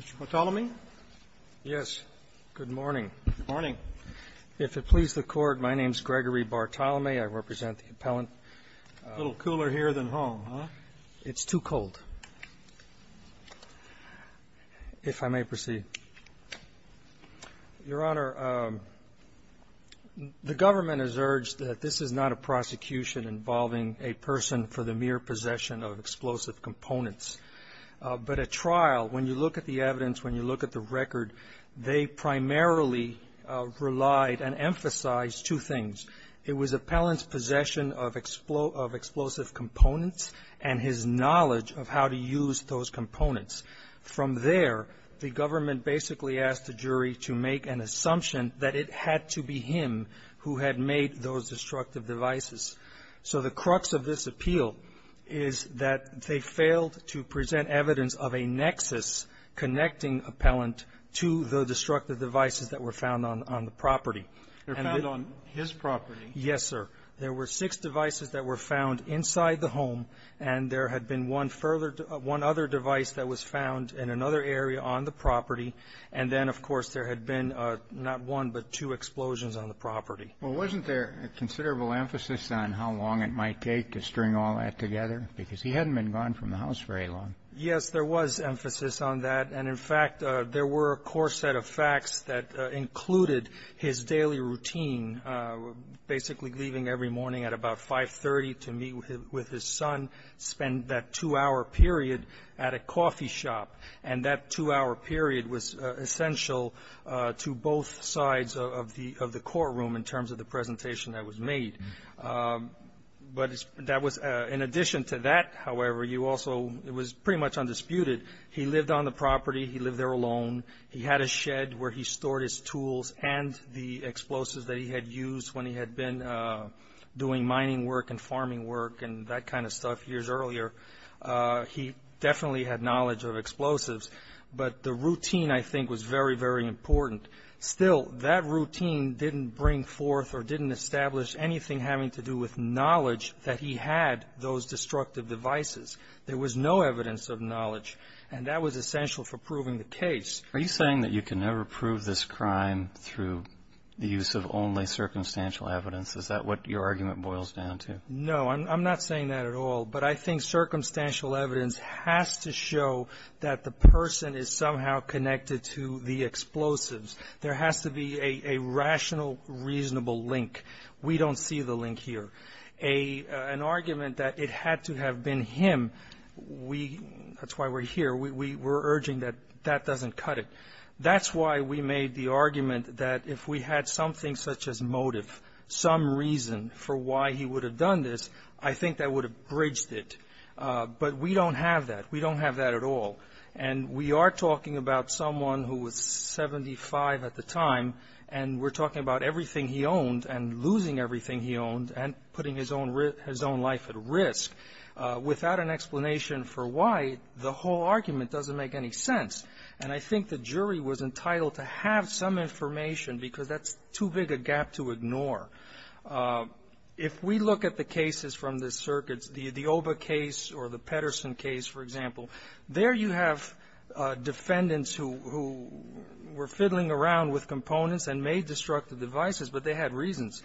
Mr. Bartholomew? Yes. Good morning. Good morning. If it pleases the Court, my name is Gregory Bartholomew. I represent the appellant. A little cooler here than home, huh? It's too cold, if I may proceed. Your Honor, the government has urged that this is not a prosecution involving a person for the mere possession of explosive components. But a trial, when you look at the evidence, when you look at the record, they primarily relied and emphasized two things. It was appellant's possession of explosive components and his knowledge of how to use those components. From there, the government basically asked the jury to make an assumption that it had to be him who had made those destructive devices. So the crux of this appeal is that they failed to present evidence of a nexus connecting appellant to the destructive devices that were found on the property. And then on his property. Yes, sir. There were six devices that were found inside the home, and there had been one further to one other device that was found in another area on the property. And then, of course, there had been not one but two explosions on the property. Well, wasn't there a considerable emphasis on how long it might take to string all that together? Because he hadn't been gone from the house very long. Yes, there was emphasis on that. And, in fact, there were a core set of facts that included his daily routine, basically leaving every morning at about 530 to meet with his son, spend that two-hour period at a coffee shop. And that two-hour period was essential to both sides of the courtroom in terms of the presentation that was made. But that was, in addition to that, however, you also, it was pretty much undisputed. He lived on the property. He lived there alone. He had a shed where he stored his tools and the explosives that he had used when he had been doing mining work and farming work and that kind of stuff years earlier. He definitely had knowledge of explosives. But the routine, I think, was very, very important. Still, that routine didn't bring forth or didn't establish anything having to do with knowledge that he had those destructive devices. There was no evidence of knowledge. And that was essential for proving the case. Are you saying that you can never prove this crime through the use of only circumstantial evidence? Is that what your argument boils down to? No. I'm not saying that at all. But I think circumstantial evidence has to show that the person is somehow connected to the explosives. There has to be a rational, reasonable link. We don't see the link here. An argument that it had to have been him, we, that's why we're here, we're urging that that doesn't cut it. That's why we made the argument that if we had something such as motive, some reason for why he would have done this, I think that would have bridged it. But we don't have that. We don't have that at all. And we are talking about someone who was 75 at the time, and we're talking about everything he owned and losing everything he owned and putting his own life at risk without an explanation for why the whole argument doesn't make any sense. And I think the jury was entitled to have some information because that's too big a gap to ignore. If we look at the cases from the circuits, the Oba case or the Pedersen case, for example, there you have defendants who were fiddling around with components and made destructive devices, but they had reasons,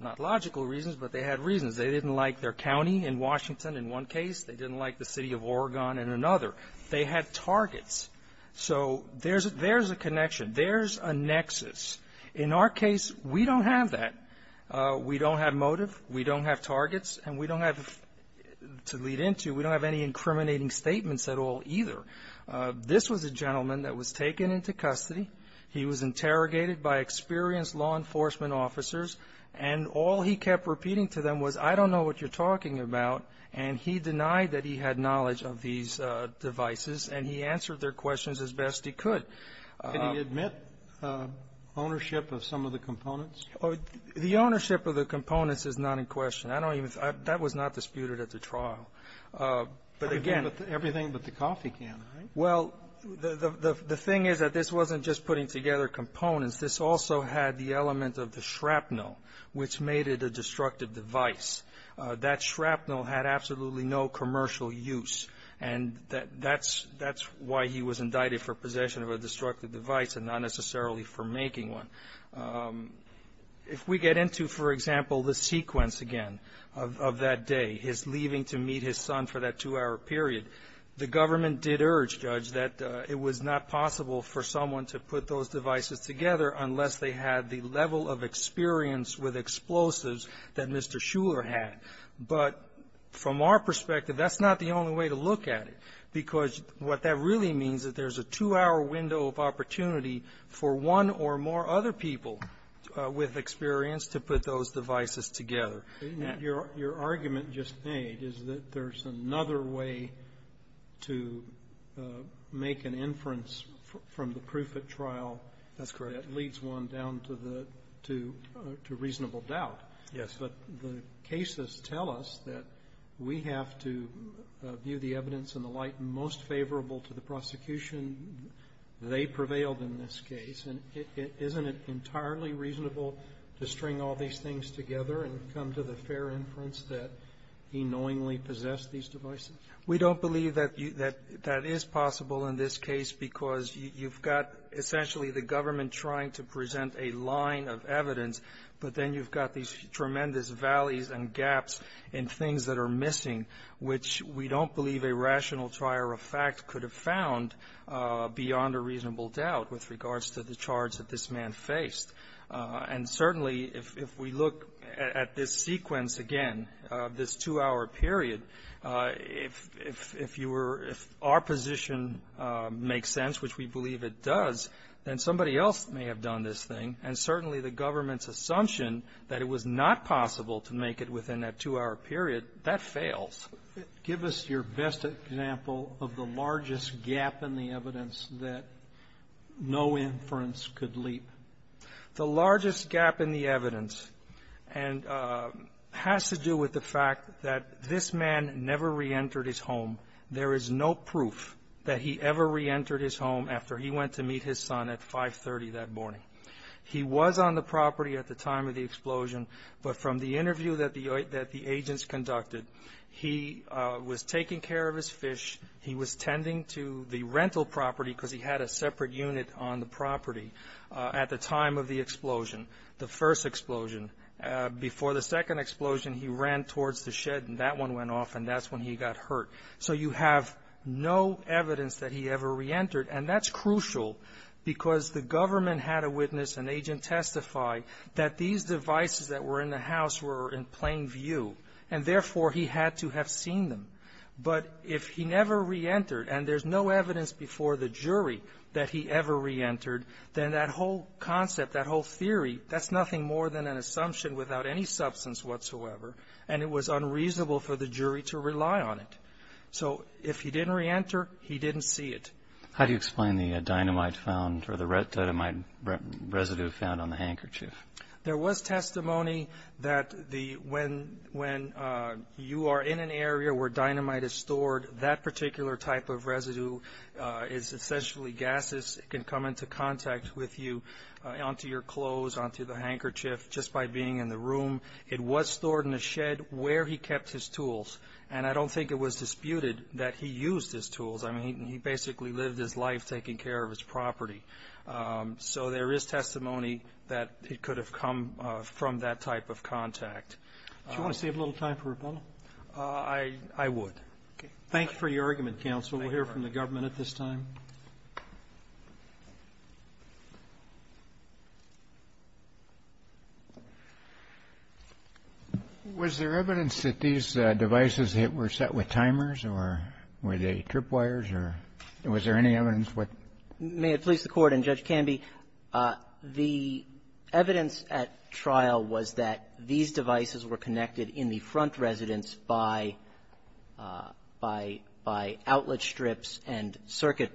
not logical reasons, but they had reasons. They didn't like their county in Washington in one case. They didn't like the city of Oregon in another. They had targets. So there's a connection. There's a nexus. In our case, we don't have that. We don't have motive. We don't have targets. And we don't have to lead into, we don't have any incriminating statements at all either. This was a gentleman that was taken into custody. He was interrogated by experienced law enforcement officers. And all he kept repeating to them was, I don't know what you're talking about. And he denied that he had knowledge of these devices. And he answered their questions as best he could. Kennedy Admit ownership of some of the components? The ownership of the components is not in question. I don't even, that was not disputed at the trial. But again. Everything but the coffee can, right? Well, the thing is that this wasn't just putting together components. This also had the element of the shrapnel, which made it a destructive device. That shrapnel had absolutely no commercial use. And that's why he was indicted for possession of a destructive device and not necessarily for making one. If we get into, for example, the sequence again of that day, his leaving to meet his son for that two hour period. The government did urge, Judge, that it was not possible for someone to put those devices together unless they had the level of experience with explosives that Mr. Shuler had. But from our perspective, that's not the only way to look at it. Because what that really means is that there's a two hour window of opportunity for one or more other people with experience to put those devices together. Your argument just made is that there's another way to make an inference from the proof at trial. That's correct. That leads one down to reasonable doubt. Yes. But the cases tell us that we have to view the evidence and the light most favorable to the prosecution they prevailed in this case. And isn't it entirely reasonable to string all these things together and come to the fair inference that he knowingly possessed these devices? We don't believe that that is possible in this case because you've got essentially the government trying to present a line of evidence, but then you've got these tremendous valleys and gaps in things that are missing, which we don't believe a rational trier of fact could have found beyond a reasonable doubt with regards to the charge that this man faced. And certainly, if we look at this sequence again, this two hour period, if you were, if our position makes sense, which we believe it does, then somebody else may have done this thing. And certainly the government's assumption that it was not possible to make it within that two hour period, that fails. Give us your best example of the largest gap in the evidence that no inference could leap. The largest gap in the evidence has to do with the fact that this man never re-entered his home. There is no proof that he ever re-entered his home after he went to meet his son at 5.30 that morning. He was on the property at the time of the explosion, but from the interview that the agents conducted, he was taking care of his fish. He was tending to the rental property because he had a separate unit on the property at the time of the explosion, the first explosion. Before the second explosion, he ran towards the shed, and that one went off, and that's when he got hurt. So you have no evidence that he ever re-entered, and that's crucial because the government had a witness, an agent testify, that these devices that were in the house were in plain view. And therefore, he had to have seen them. But if he never re-entered, and there's no evidence before the jury that he ever re-entered, then that whole concept, that whole theory, that's nothing more than an assumption without any substance whatsoever, and it was unreasonable for the jury to rely on it. So if he didn't re-enter, he didn't see it. How do you explain the dynamite found, or the dynamite residue found on the handkerchief? There was testimony that when you are in an area where dynamite is stored, that particular type of residue is essentially gases. It can come into contact with you onto your clothes, onto the handkerchief, just by being in the room. It was stored in a shed where he kept his tools, and I don't think it was disputed that he used his tools. I mean, he basically lived his life taking care of his property. So there is testimony that it could have come from that type of contact. Do you want to save a little time for rebuttal? I would. Thank you for your argument, counsel. We'll hear from the government at this time. Was there evidence that these devices were set with timers, or were they trip wires, or was there any evidence with them? May it please the Court, and Judge Canby, the evidence at trial was that these circuit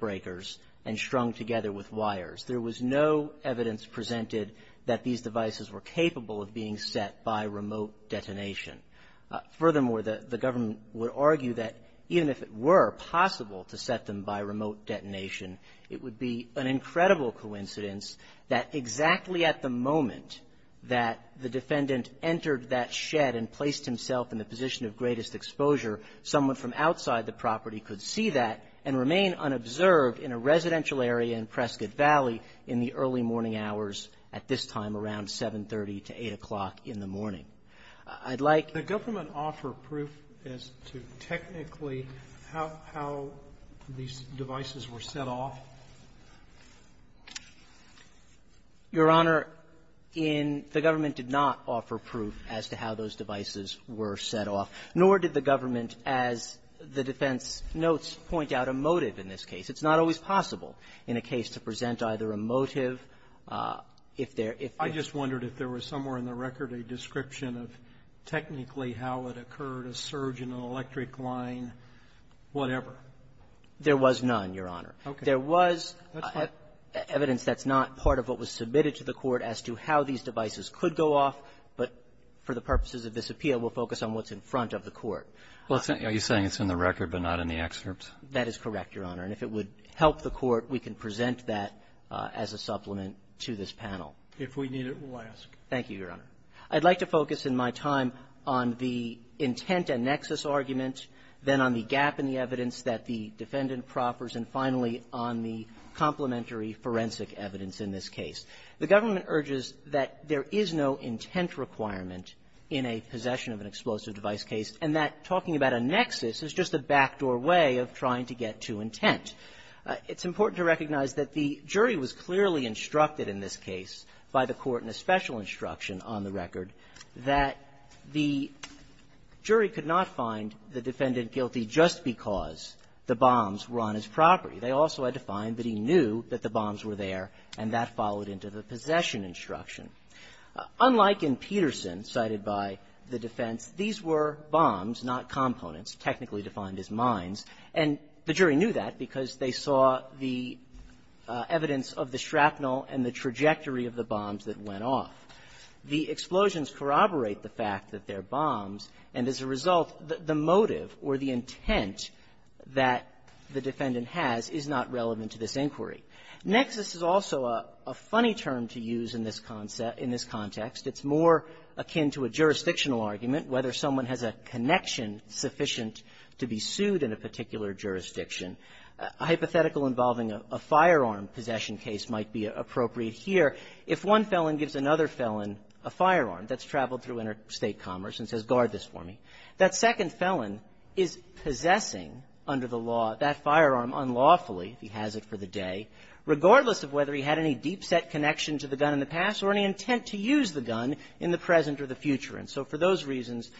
breakers and strung together with wires. There was no evidence presented that these devices were capable of being set by remote detonation. Furthermore, the government would argue that even if it were possible to set them by remote detonation, it would be an incredible coincidence that exactly at the moment that the defendant entered that shed and placed himself in the position of greatest exposure, someone from outside the property could see that and remain unobserved in a residential area in Prescott Valley in the early morning hours, at this time, around 730 to 8 o'clock in the morning. I'd like to go from an offer proof as to technically how these devices were set off. Your Honor, the government did not offer proof as to how those devices were set off. Nor did the government, as the defense notes, point out a motive in this case. It's not always possible in a case to present either a motive if there — If I just wondered if there was somewhere in the record a description of technically how it occurred, a surge in an electric line, whatever. There was none, Your Honor. Okay. There was evidence that's not part of what was submitted to the Court as to how these devices could go off. But for the purposes of this appeal, we'll focus on what's in front of the Court. Well, are you saying it's in the record but not in the excerpt? That is correct, Your Honor. And if it would help the Court, we can present that as a supplement to this panel. If we need it, we'll ask. Thank you, Your Honor. I'd like to focus in my time on the intent and nexus argument, then on the gap in the evidence that the defendant proffers, and finally, on the complementary forensic evidence in this case. The government urges that there is no intent requirement in a possession of an explosive device case, and that talking about a nexus is just a backdoor way of trying to get to intent. It's important to recognize that the jury was clearly instructed in this case by the Court in a special instruction on the record that the jury could not find the defendant guilty just because the bombs were on his property. They also had to find that he knew that the bombs were there, and that followed into the possession instruction. Unlike in Peterson, cited by the defense, these were bombs, not components, technically defined as mines. And the jury knew that because they saw the evidence of the shrapnel and the trajectory of the bombs that went off. The explosions corroborate the fact that they're bombs, and as a result, the motive or the intent that the defendant has is not relevant to this inquiry. Nexus is also a funny term to use in this context. It's more akin to a jurisdictional argument, whether someone has a connection sufficient to be sued in a particular jurisdiction. A hypothetical involving a firearm possession case might be appropriate here. If one felon gives another felon a firearm that's traveled through interstate commerce and says, guard this for me, that second felon is possessing under the law that firearm unlawfully, if he has it for the day, regardless of whether he had any deep-set connection to the gun in the past or any intent to use the gun in the present or the future. And so for those reasons,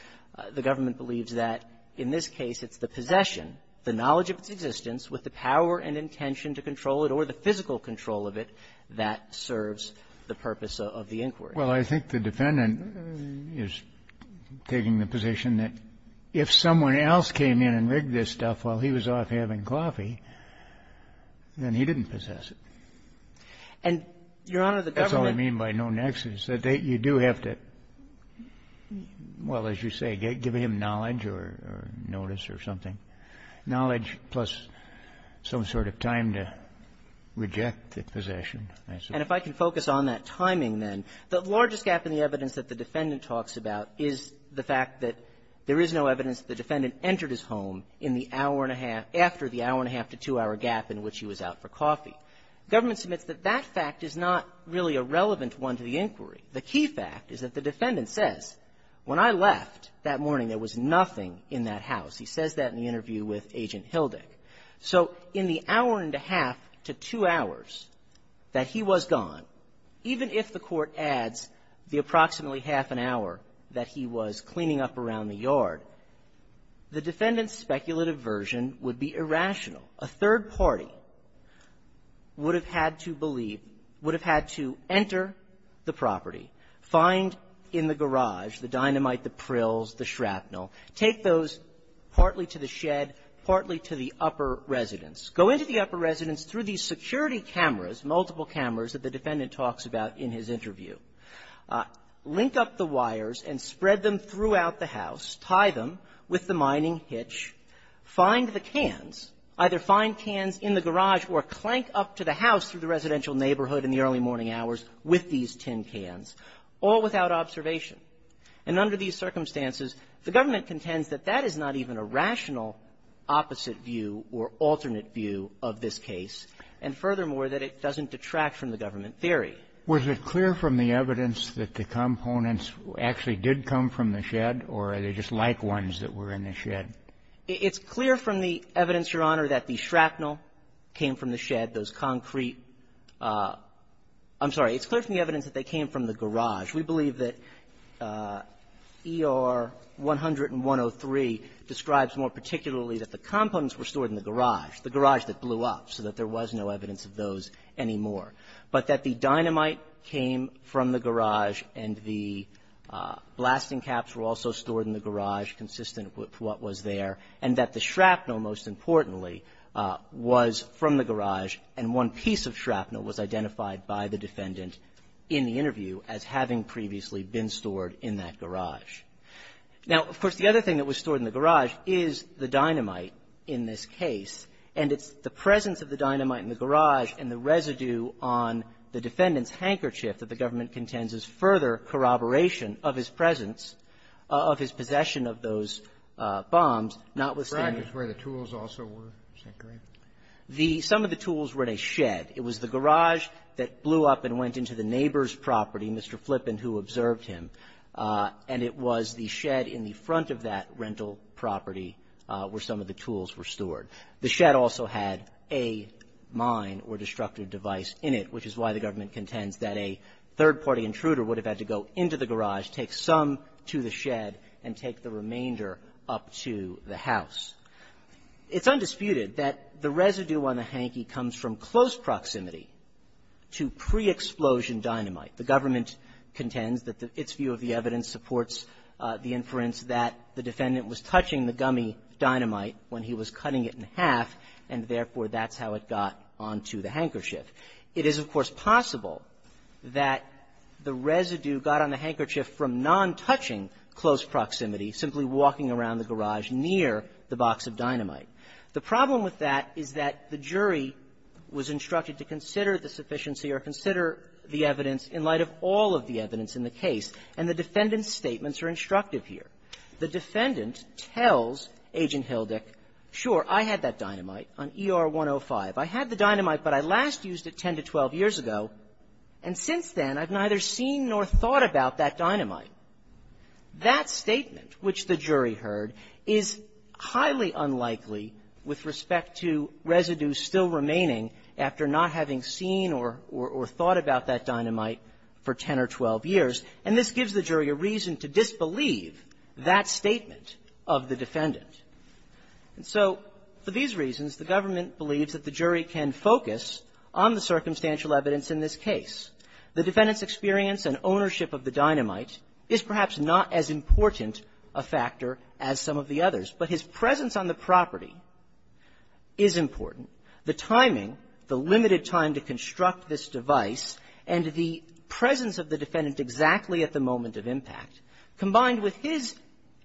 the government believes that in this case it's the possession, the knowledge of its existence with the power and intention to control it or the physical control of it that serves the purpose of the inquiry. Well, I think the defendant is taking the position that if someone else came in and took the firearm in Coffey, then he didn't possess it. And, Your Honor, the government That's what I mean by no nexus, that you do have to, well, as you say, give him knowledge or notice or something, knowledge plus some sort of time to reject the possession. And if I can focus on that timing, then, the largest gap in the evidence that the defendant talks about is the fact that there is no evidence that the defendant entered his home in the hour and a half, after the hour and a half to two hour gap in which he was out for coffee. The government submits that that fact is not really a relevant one to the inquiry. The key fact is that the defendant says, when I left that morning, there was nothing in that house. He says that in the interview with Agent Hildik. So in the hour and a half to two hours that he was gone, even if the court adds the defendant's speculative version would be irrational. A third party would have had to believe, would have had to enter the property, find in the garage the dynamite, the prills, the shrapnel, take those partly to the shed, partly to the upper residence, go into the upper residence through these security cameras, multiple cameras that the defendant talks about in his interview, link up the wires and spread them throughout the house, tie them with the mining hitch, find the cans, either find cans in the garage or clank up to the house through the residential neighborhood in the early morning hours with these tin cans, all without observation. And under these circumstances, the government contends that that is not even a rational opposite view or alternate view of this case, and furthermore, that it doesn't detract from the government theory. Was it clear from the evidence that the components actually did come from the shed, or are they just like ones that were in the shed? It's clear from the evidence, Your Honor, that the shrapnel came from the shed. Those concrete – I'm sorry. It's clear from the evidence that they came from the garage. We believe that ER 100 and 103 describes more particularly that the components were stored in the garage, the garage that blew up, so that there was no evidence of those anymore, but that the dynamite came from the garage and the blasting caps were also stored in the garage, consistent with what was there, and that the shrapnel, most importantly, was from the garage, and one piece of shrapnel was identified by the defendant in the interview as having previously been stored in that garage. Now, of course, the other thing that was stored in the garage is the dynamite in this case. And it's the presence of the dynamite in the garage and the residue on the defendant's handkerchief that the government contends is further corroboration of his presence of his possession of those bombs, notwithstanding the fact that the dynamite was stored in the garage. Some of the tools were in a shed. It was the garage that blew up and went into the neighbor's property, Mr. Flippen, who observed him, and it was the shed in the front of that rental property where some of the tools were stored. The shed also had a mine or destructive device in it, which is why the government contends that a third-party intruder would have had to go into the garage, take some to the shed, and take the remainder up to the house. It's undisputed that the residue on the hankie comes from close proximity to pre-explosion dynamite. The government contends that its view of the evidence supports the inference that the defendant was touching the gummy dynamite when he was cutting it in half, and therefore, that's how it got onto the handkerchief. It is, of course, possible that the residue got on the handkerchief from non-touching close proximity, simply walking around the garage near the box of dynamite. The problem with that is that the jury was instructed to consider the sufficiency or consider the evidence in light of all of the evidence in the case, and the defendant's The defendant tells Agent Hildick, sure, I had that dynamite on ER 105. I had the dynamite, but I last used it 10 to 12 years ago, and since then, I've neither seen nor thought about that dynamite. That statement, which the jury heard, is highly unlikely with respect to residue still remaining after not having seen or thought about that dynamite for 10 or 12 years, and this gives the jury a reason to disbelieve that statement of the defendant. And so for these reasons, the government believes that the jury can focus on the circumstantial evidence in this case. The defendant's experience and ownership of the dynamite is perhaps not as important a factor as some of the others, but his presence on the property is important. The timing, the limited time to construct this device, and the presence of the defendant exactly at the moment of impact, combined with his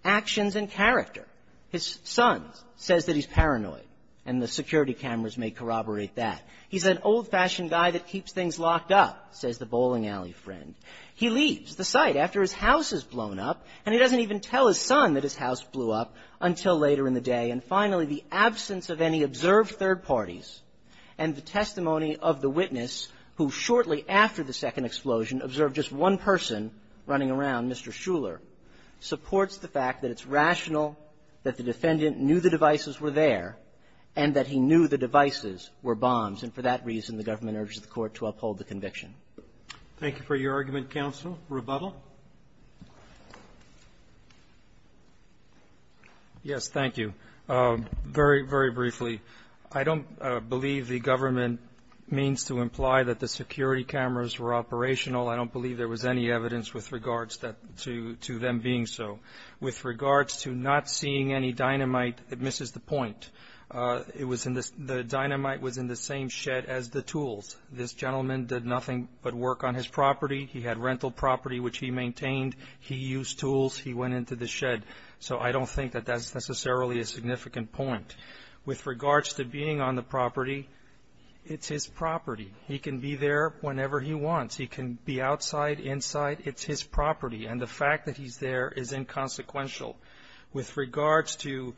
actions and character. His son says that he's paranoid, and the security cameras may corroborate that. He's an old-fashioned guy that keeps things locked up, says the bowling alley friend. He leaves the site after his house is blown up, and he doesn't even tell his son that his house blew up until later in the day. And finally, the absence of any observed third parties and the testimony of the witness who shortly after the second explosion observed just one person running around, Mr. Shuler, supports the fact that it's rational that the defendant knew the devices were there and that he knew the devices were bombs. And for that reason, the government urges the Court to uphold the conviction. Thank you for your argument, counsel. Rebuttal. Yes, thank you. Very, very briefly, I don't believe the government means to imply that the security cameras were operational. I don't believe there was any evidence with regards to them being so. With regards to not seeing any dynamite, it misses the point. The dynamite was in the same shed as the tools. This gentleman did nothing but work on his property. He had rental property, which he maintained. He used tools. He went into the shed. So I don't think that that's necessarily a significant point. With regards to being on the property, it's his property. He can be there whenever he wants. He can be outside, inside. It's his property. And the fact that he's there is inconsequential. With regards to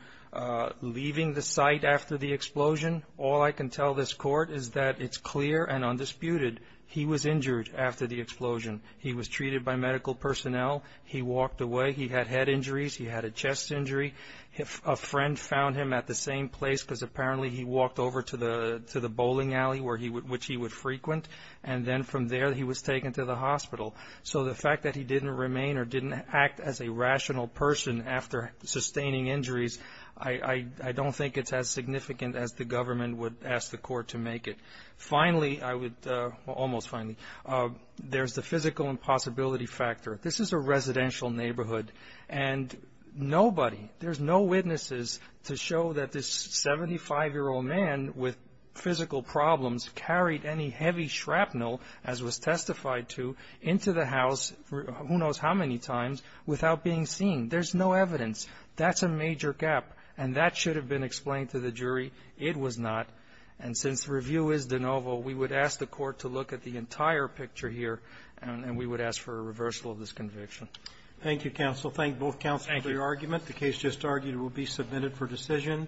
leaving the site after the explosion, all I can tell this Court is that it's clear and undisputed he was injured after the explosion. He was treated by medical personnel. He walked away. He had head injuries. He had a chest injury. A friend found him at the same place because apparently he walked over to the bowling alley, which he would frequent. And then from there, he was taken to the hospital. So the fact that he didn't remain or didn't act as a rational person after sustaining injuries, I don't think it's as significant as the government would ask the Court to make it. Finally, I would, well, almost finally, there's the physical impossibility factor. This is a residential neighborhood. And nobody, there's no witnesses to show that this 75-year-old man with physical problems carried any heavy shrapnel, as was testified to, into the house, who knows how many times, without being seen. There's no evidence. That's a major gap. And that should have been explained to the jury. It was not. And since the review is de novo, we would ask the Court to look at the entire picture here, and we would ask for a reversal of this conviction. Thank you, counsel. Thank both counsel for your argument. The case just argued will be submitted for decision.